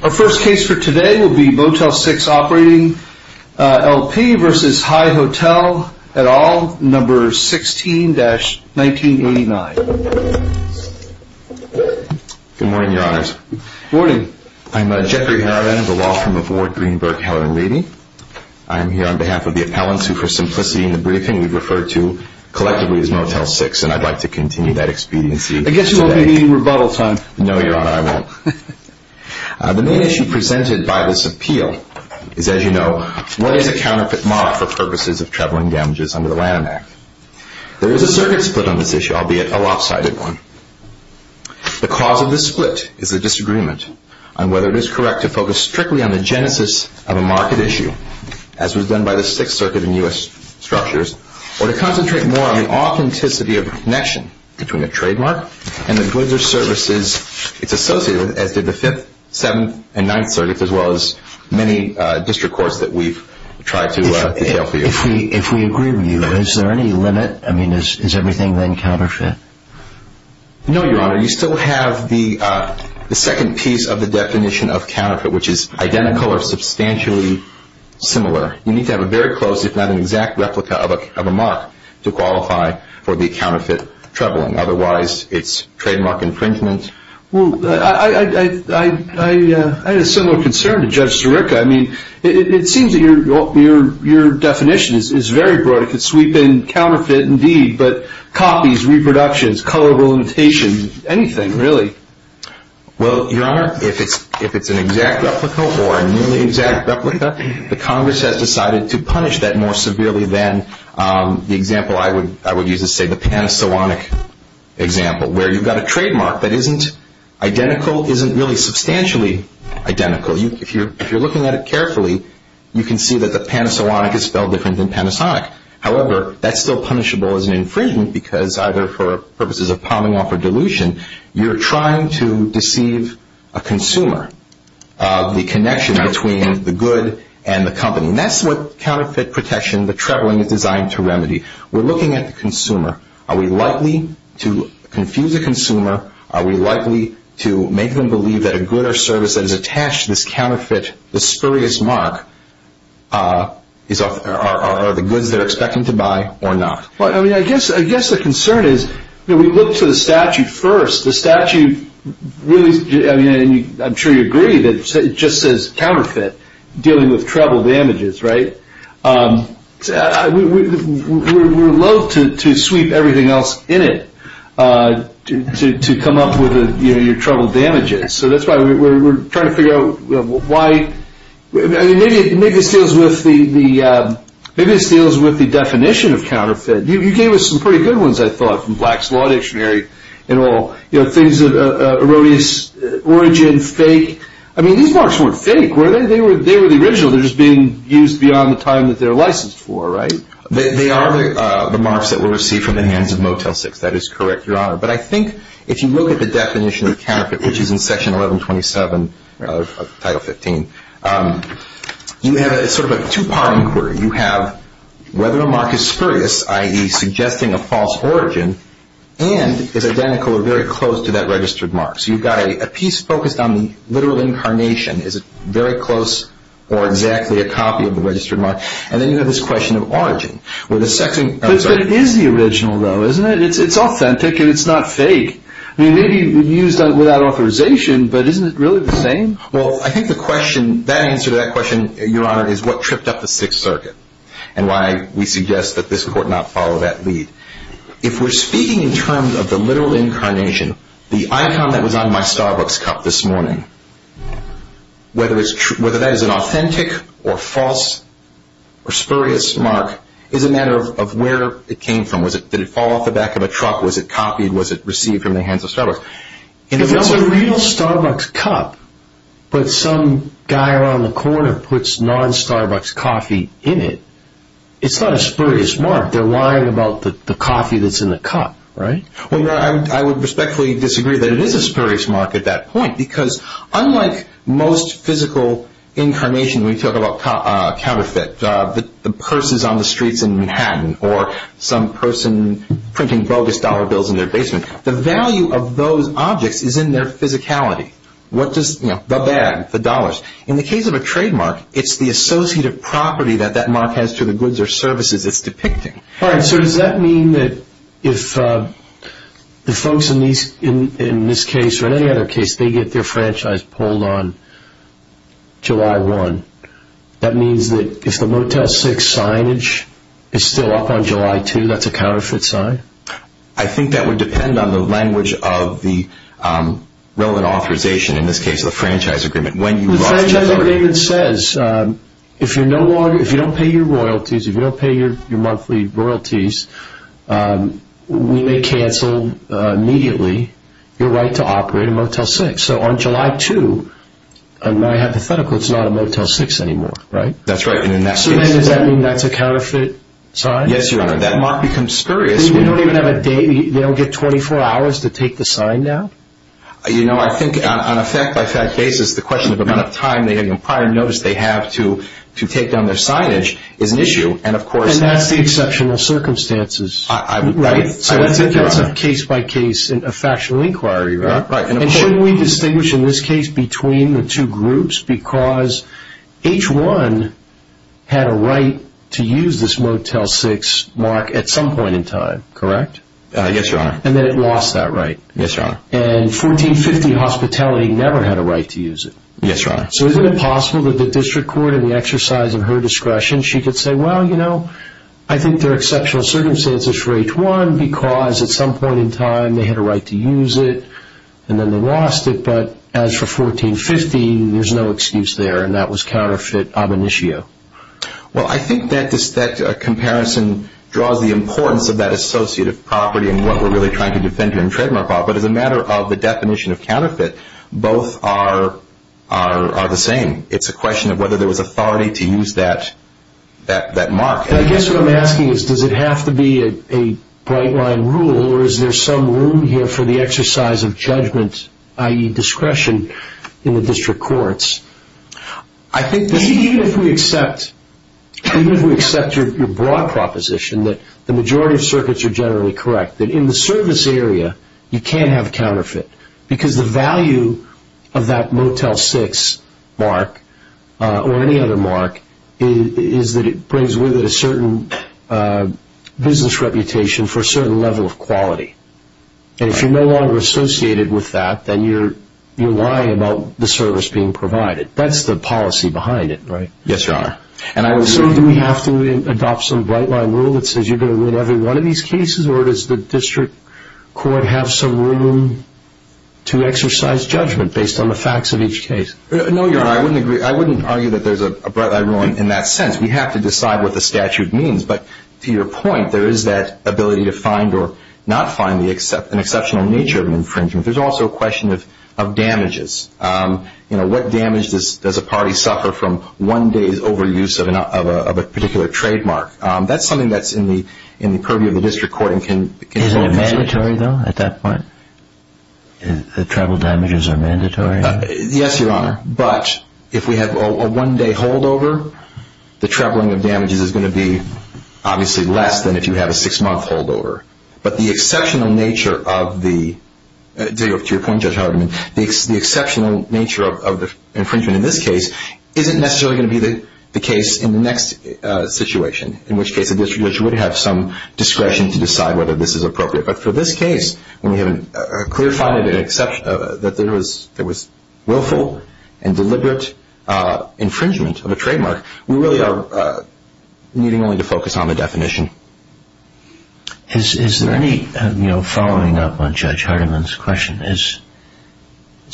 Our first case for today will be Motel6operating L P versus HI Hotel at all, number 16-1989. Good morning, your honors. Good morning. I'm Jeffrey Harriman, the law firm of Ward, Greenberg, Howard & Levy. I am here on behalf of the appellants, who for simplicity in the briefing we've referred to collectively as Motel6, and I'd like to continue that expediency today. I guess you won't be needing rebuttal time. No, your honor, I won't. The main issue presented by this appeal is, as you know, what is a counterfeit mark for purposes of traveling damages under the Lanham Act? There is a circuit split on this issue, albeit a lopsided one. The cause of this split is a disagreement on whether it is correct to focus strictly on the genesis of a market issue, as was done by the Sixth Circuit in U.S. structures, or to concentrate more on the authenticity of the connection between a trademark and the goods or services it's associated with, as did the Fifth, Seventh, and Ninth Circuits, as well as many district courts that we've tried to detail for you. If we agree with you, is there any limit? I mean, is everything then counterfeit? No, your honor. You still have the second piece of the definition of counterfeit, which is identical or substantially similar. You need to have a very close, if not an exact, replica of a mark to qualify for the counterfeit traveling. Otherwise, it's trademark infringement. Well, I had a similar concern to Judge Sirica. I mean, it seems that your definition is very broad. It could sweep in counterfeit indeed, but copies, reproductions, color limitation, anything really. Well, your honor, if it's an exact replica or a nearly exact replica, the Congress has decided to punish that more severely than the example I would use to say the Panasonic example, where you've got a trademark that isn't identical, isn't really substantially identical. If you're looking at it carefully, you can see that the Panasonic is spelled different than Panasonic. However, that's still punishable as an infringement because either for purposes of palming off or dilution, you're trying to deceive a consumer of the connection between the good and the company. And that's what counterfeit protection, the traveling, is designed to remedy. We're looking at the consumer. Are we likely to confuse a consumer? Are we likely to make them believe that a good or service that is attached to this counterfeit, this spurious mark, are the goods they're expecting to buy or not? Well, I mean, I guess the concern is we look to the statute first. The statute really, I mean, I'm sure you agree that it just says counterfeit dealing with travel damages, right? We're loathe to sweep everything else in it to come up with your travel damages. So that's why we're trying to figure out why. Maybe this deals with the definition of counterfeit. You gave us some pretty good ones, I thought, from Black's Law Dictionary and all. You know, things that are erroneous, origin, fake. I mean, these marks weren't fake, were they? They were the original. They're just being used beyond the time that they're licensed for, right? They are the marks that were received from the hands of Motel 6. That is correct, Your Honor. But I think if you look at the definition of counterfeit, which is in Section 1127 of Title 15, you have sort of a two-part inquiry. You have whether a mark is spurious, i.e. suggesting a false origin, and is identical or very close to that registered mark. So you've got a piece focused on the literal incarnation. Is it very close or exactly a copy of the registered mark? And then you have this question of origin. But it is the original, though, isn't it? It's authentic and it's not fake. It may be used without authorization, but isn't it really the same? Well, I think the question, that answer to that question, Your Honor, is what tripped up the Sixth Circuit and why we suggest that this Court not follow that lead. If we're speaking in terms of the literal incarnation, the icon that was on my Starbucks cup this morning, whether that is an authentic or false or spurious mark is a matter of where it came from. Did it fall off the back of a truck? Was it copied? Was it received from the hands of Starbucks? If it was a real Starbucks cup, but some guy around the corner puts non-Starbucks coffee in it, it's not a spurious mark. They're lying about the coffee that's in the cup, right? Well, Your Honor, I would respectfully disagree that it is a spurious mark at that point because unlike most physical incarnation we talk about counterfeit, the purses on the streets in Manhattan or some person printing bogus dollar bills in their basement, the value of those objects is in their physicality. The bag, the dollars. In the case of a trademark, it's the associative property that that mark has to the goods or services it's depicting. All right, so does that mean that if the folks in this case or any other case, they get their franchise pulled on July 1, that means that if the Motel 6 signage is still up on July 2, that's a counterfeit sign? I think that would depend on the language of the relevant authorization, in this case the franchise agreement. The franchise agreement says if you don't pay your royalties, if you don't pay your monthly royalties, we may cancel immediately your right to operate a Motel 6. So on July 2, my hypothetical, it's not a Motel 6 anymore, right? That's right. So then does that mean that's a counterfeit sign? Yes, Your Honor. That mark becomes spurious. You don't even have a date? They don't get 24 hours to take the sign down? You know, I think on a fact-by-fact basis, the question of the amount of time they have in prior notice they have to take down their signage is an issue. And that's the exceptional circumstances, right? So that's a case-by-case, a factional inquiry, right? Right. And shouldn't we distinguish in this case between the two groups? Because H-1 had a right to use this Motel 6 mark at some point in time, correct? Yes, Your Honor. And then it lost that right. Yes, Your Honor. And 1450 Hospitality never had a right to use it. Yes, Your Honor. So isn't it possible that the district court, in the exercise of her discretion, she could say, well, you know, I think there are exceptional circumstances for H-1 because at some point in time they had a right to use it, and then they lost it. But as for 1450, there's no excuse there, and that was counterfeit ab initio. Well, I think that comparison draws the importance of that associative property and what we're really trying to defend here in trademark law. But as a matter of the definition of counterfeit, both are the same. It's a question of whether there was authority to use that mark. I guess what I'm asking is, does it have to be a bright-line rule, or is there some room here for the exercise of judgment, i.e. discretion, in the district courts? I think even if we accept your broad proposition that the majority of circuits are generally correct, that in the service area you can't have counterfeit because the value of that Motel 6 mark or any other mark is that it brings with it a certain business reputation for a certain level of quality. And if you're no longer associated with that, then you're lying about the service being provided. That's the policy behind it, right? Yes, Your Honor. So do we have to adopt some bright-line rule that says you're going to win every one of these cases, or does the district court have some room to exercise judgment based on the facts of each case? No, Your Honor. I wouldn't argue that there's a bright-line rule in that sense. We have to decide what the statute means. But to your point, there is that ability to find or not find an exceptional nature of an infringement. There's also a question of damages. What damage does a party suffer from one day's overuse of a particular trademark? That's something that's in the purview of the district court. The travel damages are mandatory? Yes, Your Honor, but if we have a one-day holdover, the traveling of damages is going to be obviously less than if you have a six-month holdover. But the exceptional nature of the infringement in this case isn't necessarily going to be the case in the next situation, in which case the district judge would have some discretion to decide whether this is appropriate. But for this case, when we have a clear finding that there was willful and deliberate infringement of a trademark, we really are needing only to focus on the definition. Is there any, you know, following up on Judge Hardiman's question, is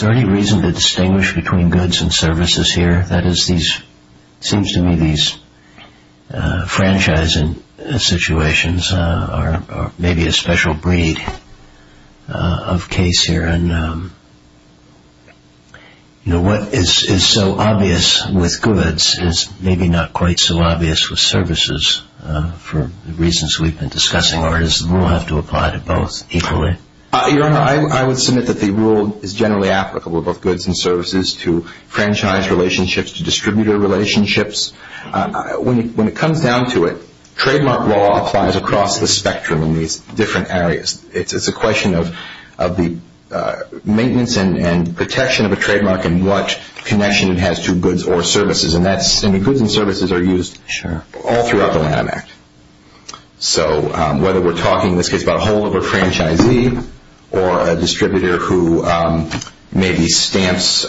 there any reason to distinguish between goods and services here? That is, it seems to me these franchising situations are maybe a special breed of case here. And, you know, what is so obvious with goods is maybe not quite so obvious with services, for reasons we've been discussing. Or does the rule have to apply to both equally? Your Honor, I would submit that the rule is generally applicable for both goods and services to franchise relationships, to distributor relationships. When it comes down to it, trademark law applies across the spectrum in these different areas. It's a question of the maintenance and protection of a trademark and what connection it has to goods or services. And goods and services are used all throughout the Lanham Act. So whether we're talking in this case about a holdover franchisee or a distributor who maybe stamps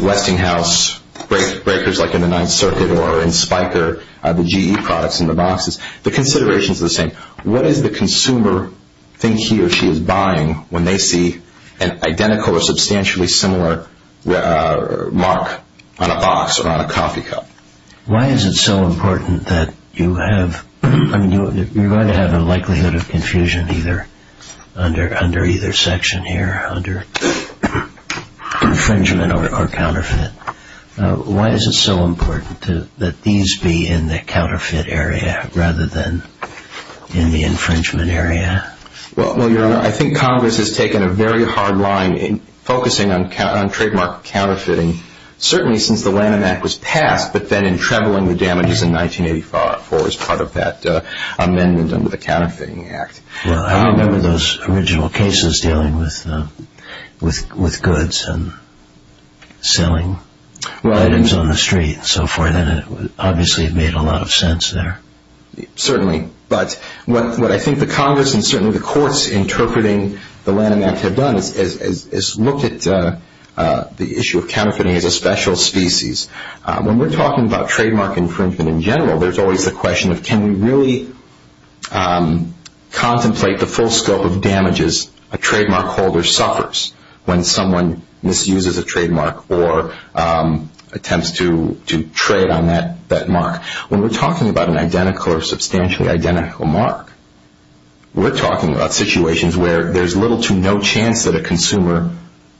Westinghouse breakers like in the Ninth Circuit or in Spiker, the GE products in the boxes, the considerations are the same. What does the consumer think he or she is buying when they see an identical or substantially similar mark on a box or on a coffee cup? Why is it so important that you have, you're going to have a likelihood of confusion under either section here, under infringement or counterfeit. Why is it so important that these be in the counterfeit area rather than in the infringement area? Well, Your Honor, I think Congress has taken a very hard line in focusing on trademark counterfeiting, certainly since the Lanham Act was passed, but then in trebling the damages in 1985 as part of that amendment under the Counterfeiting Act. Well, I remember those original cases dealing with goods and selling items on the street and so forth, and it obviously made a lot of sense there. Certainly, but what I think the Congress and certainly the courts interpreting the Lanham Act have done is look at the issue of counterfeiting as a special species. When we're talking about trademark infringement in general, there's always the question of can we really contemplate the full scope of damages a trademark holder suffers when someone misuses a trademark or attempts to trade on that mark. When we're talking about an identical or substantially identical mark, we're talking about situations where there's little to no chance that a consumer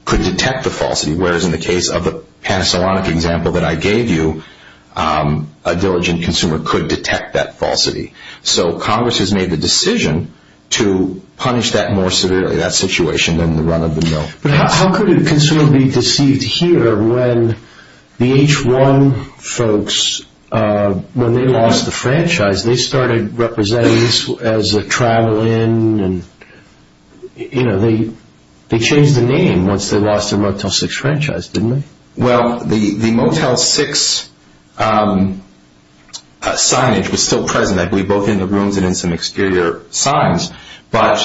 could detect the falsity, whereas in the case of the Panasonic example that I gave you, a diligent consumer could detect that falsity. So Congress has made the decision to punish that more severely, that situation, than the run of the mill. But how could a consumer be deceived here when the H1 folks, when they lost the franchise, they started representing this as a travel in, they changed the name once they lost their Motel 6 franchise, didn't they? Well, the Motel 6 signage was still present, I believe, both in the rooms and in some exterior signs. But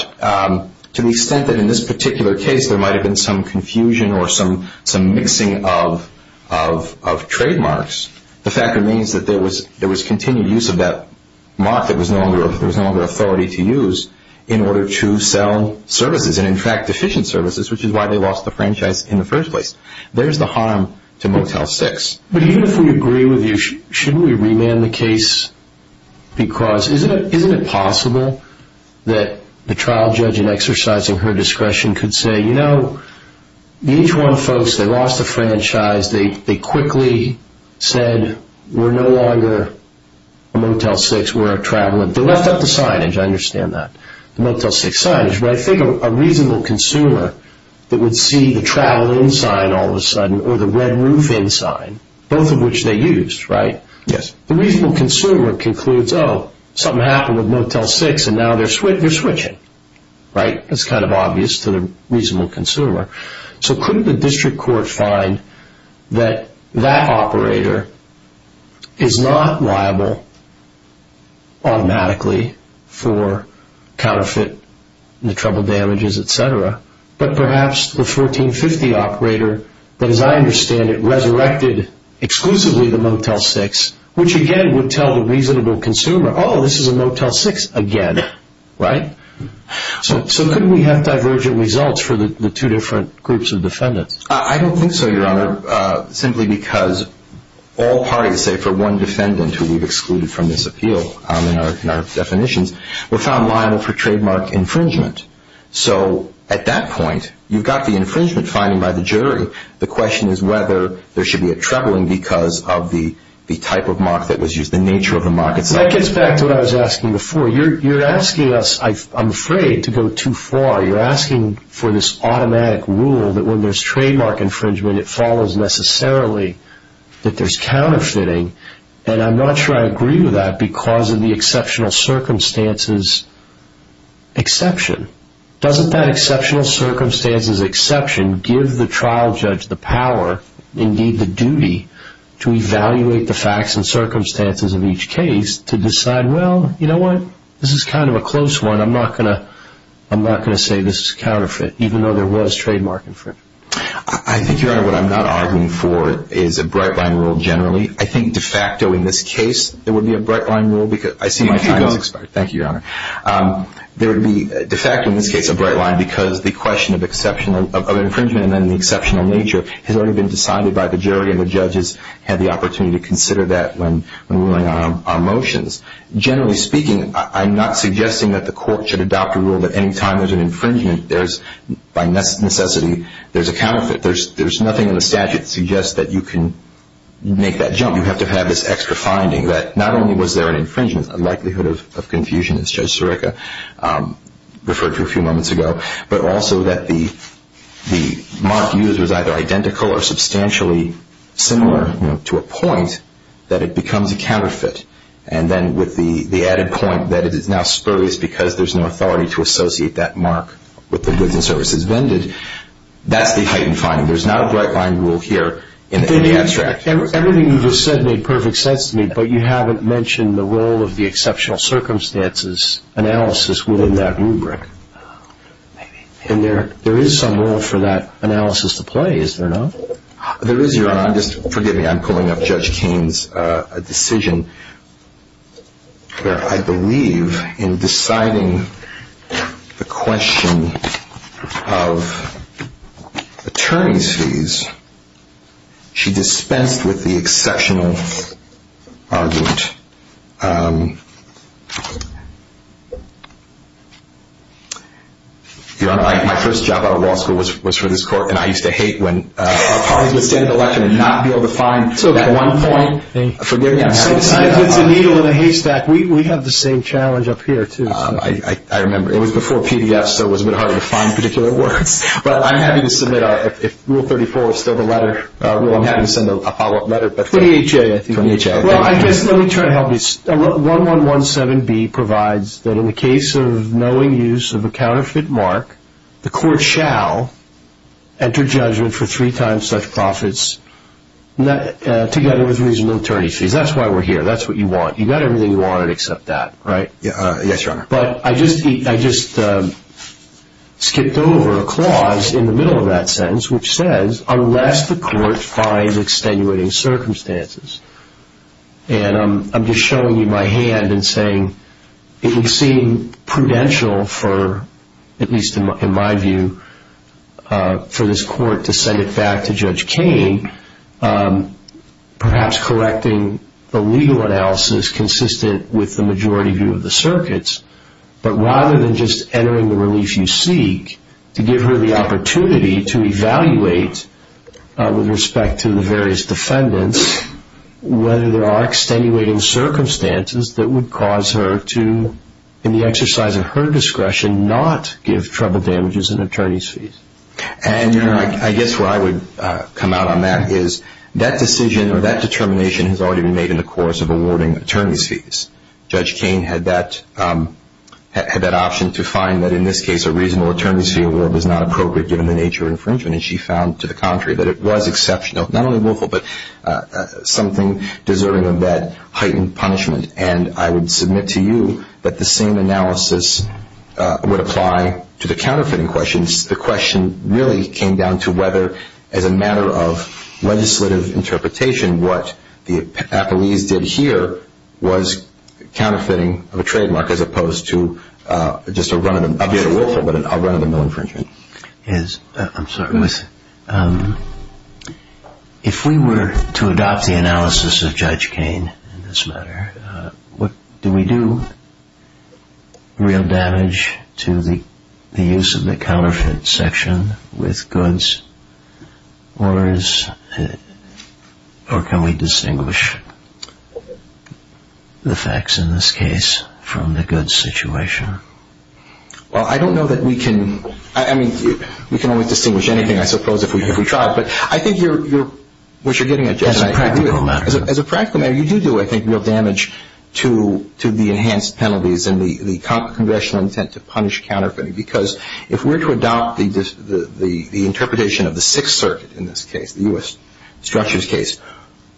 to the extent that in this particular case there might have been some confusion or some mixing of trademarks, the fact remains that there was continued use of that mark that there was no longer authority to use in order to sell services, and in fact, deficient services, which is why they lost the franchise in the first place. There's the harm to Motel 6. But even if we agree with you, shouldn't we remand the case? Because isn't it possible that the trial judge in exercising her discretion could say, you know, the H1 folks, they lost the franchise, they quickly said we're no longer a Motel 6, we're a travel in. They left out the signage, I understand that, the Motel 6 signage. But I think a reasonable consumer that would see the travel in sign all of a sudden or the red roof in sign, both of which they used, right? Yes. The reasonable consumer concludes, oh, something happened with Motel 6 and now they're switching, right? That's kind of obvious to the reasonable consumer. So couldn't the district court find that that operator is not liable automatically for counterfeit and the trouble damages, et cetera, but perhaps the 1450 operator that, as I understand it, resurrected exclusively the Motel 6, which again would tell the reasonable consumer, oh, this is a Motel 6 again, right? So couldn't we have divergent results for the two different groups of defendants? I don't think so, Your Honor, simply because all parties, say, for one defendant who we've excluded from this appeal in our definitions, were found liable for trademark infringement. So at that point, you've got the infringement finding by the jury. The question is whether there should be a travel in because of the type of mock that was used, the nature of the mock. That gets back to what I was asking before. You're asking us, I'm afraid, to go too far. You're asking for this automatic rule that when there's trademark infringement, it follows necessarily that there's counterfeiting, and I'm not sure I agree with that because of the exceptional circumstances exception. Doesn't that exceptional circumstances exception give the trial judge the power, indeed the duty, to evaluate the facts and circumstances of each case to decide, well, you know what, this is kind of a close one. I'm not going to say this is a counterfeit, even though there was trademark infringement. I think, Your Honor, what I'm not arguing for is a bright line rule generally. I think de facto in this case there would be a bright line rule because I see my time has expired. Thank you, Your Honor. There would be de facto in this case a bright line because the question of infringement and then the exceptional nature has already been decided by the jury, and the judges had the opportunity to consider that when ruling on our motions. Generally speaking, I'm not suggesting that the court should adopt a rule that any time there's an infringement, there's by necessity there's a counterfeit. There's nothing in the statute that suggests that you can make that jump. You have to have this extra finding that not only was there an infringement, a likelihood of confusion, as Judge Sirica referred to a few moments ago, but also that the mark used was either identical or substantially similar to a point that it becomes a counterfeit, and then with the added point that it is now spurious because there's no authority to associate that mark with the goods and services vended. That's the heightened finding. There's not a bright line rule here in the abstract. Everything you just said made perfect sense to me, but you haven't mentioned the role of the exceptional circumstances analysis within that rubric. And there is some role for that analysis to play, is there not? There is, Your Honor. Just forgive me. I'm pulling up Judge Kaine's decision where I believe in deciding the question of attorney's fees, she dispensed with the exceptional argument. Your Honor, my first job out of law school was for this court, and I used to hate when parties would stand at election and not be able to find that one point. Forgive me, I'm happy to see that. It's a needle in a haystack. We have the same challenge up here, too. I remember. It was before PDF, so it was a bit harder to find particular words. But I'm happy to submit, if Rule 34 is still the letter, I'm happy to send a follow-up letter. 28J, I think. 28J, thank you. Well, I guess let me try to help you. 1117B provides that in the case of knowing use of a counterfeit mark, the court shall enter judgment for three times such profits together with reasonable attorney fees. That's why we're here. That's what you want. You got everything you wanted except that, right? Yes, Your Honor. But I just skipped over a clause in the middle of that sentence which says, unless the court finds extenuating circumstances. And I'm just showing you my hand and saying it would seem prudential for, at least in my view, for this court to send it back to Judge Kain, perhaps correcting the legal analysis consistent with the majority view of the circuits. But rather than just entering the relief you seek, to give her the opportunity to evaluate with respect to the various defendants whether there are extenuating circumstances that would cause her to, in the exercise of her discretion, not give trouble damages and attorney's fees. And, Your Honor, I guess where I would come out on that is that decision or that determination has already been made in the course of awarding attorney's fees. Judge Kain had that option to find that, in this case, a reasonable attorney's fee award was not appropriate given the nature of infringement. And she found, to the contrary, that it was exceptional, not only willful, but something deserving of that heightened punishment. And I would submit to you that the same analysis would apply to the counterfeiting questions. The question really came down to whether, as a matter of legislative interpretation, what the appellees did here was counterfeiting of a trademark as opposed to just a run of the mill infringement. I'm sorry. If we were to adopt the analysis of Judge Kain in this matter, do we do real damage to the use of the counterfeit section with goods or can we distinguish the facts, in this case, from the goods situation? Well, I don't know that we can. I mean, we can only distinguish anything, I suppose, if we try. But I think you're getting at Judge Kain. As a practical matter. You do do, I think, real damage to the enhanced penalties and the Congressional intent to punish counterfeiting because if we're to adopt the interpretation of the Sixth Circuit in this case, the U.S. structures case,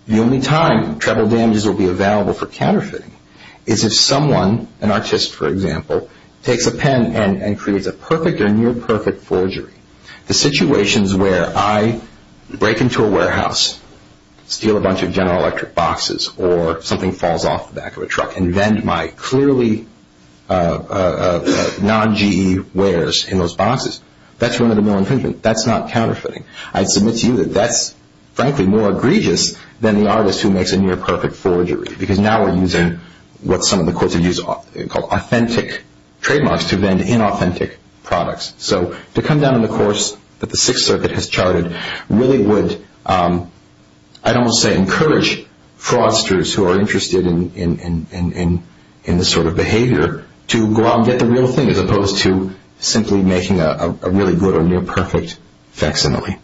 the only time treble damages will be available for counterfeiting is if someone, an artist, for example, takes a pen and creates a perfect or near-perfect forgery. The situations where I break into a warehouse, steal a bunch of General Electric boxes, or something falls off the back of a truck and vend my clearly non-GE wares in those boxes, that's one of the mill infringements. That's not counterfeiting. I submit to you that that's, frankly, more egregious than the artist who makes a near-perfect forgery because now we're using what some of the courts have used called authentic trademarks to vend inauthentic products. So to come down on the course that the Sixth Circuit has charted really would, I don't want to say encourage, fraudsters who are interested in this sort of behavior to go out and get the real thing as opposed to simply making a really good or near-perfect facsimile.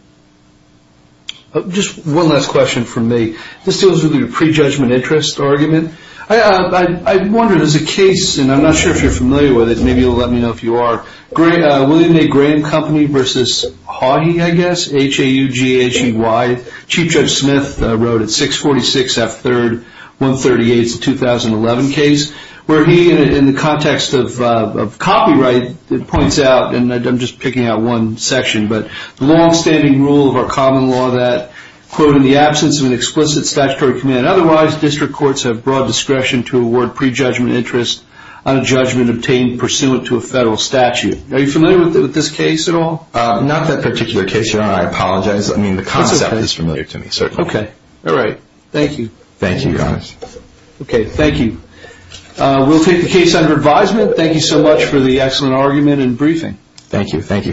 Just one last question from me. This deals with your prejudgment interest argument. I wonder, there's a case, and I'm not sure if you're familiar with it, maybe you'll let me know if you are, William A. Graham Company v. Haughey, I guess, H-A-U-G-H-E-Y. Chief Judge Smith wrote it, 646 F. 3rd, 138s of 2011 case, where he, in the context of copyright, points out, and I'm just picking out one section, but the longstanding rule of our common law that, quote, in the absence of an explicit statutory command otherwise, district courts have broad discretion to award prejudgment interest on a judgment obtained pursuant to a federal statute. Are you familiar with this case at all? Not that particular case, Your Honor. I apologize. I mean, the concept is familiar to me, certainly. Okay. All right. Thank you. Thank you, Your Honor. Okay. Thank you. We'll take the case under advisement. Thank you so much for the excellent argument and briefing. Thank you. Thank you.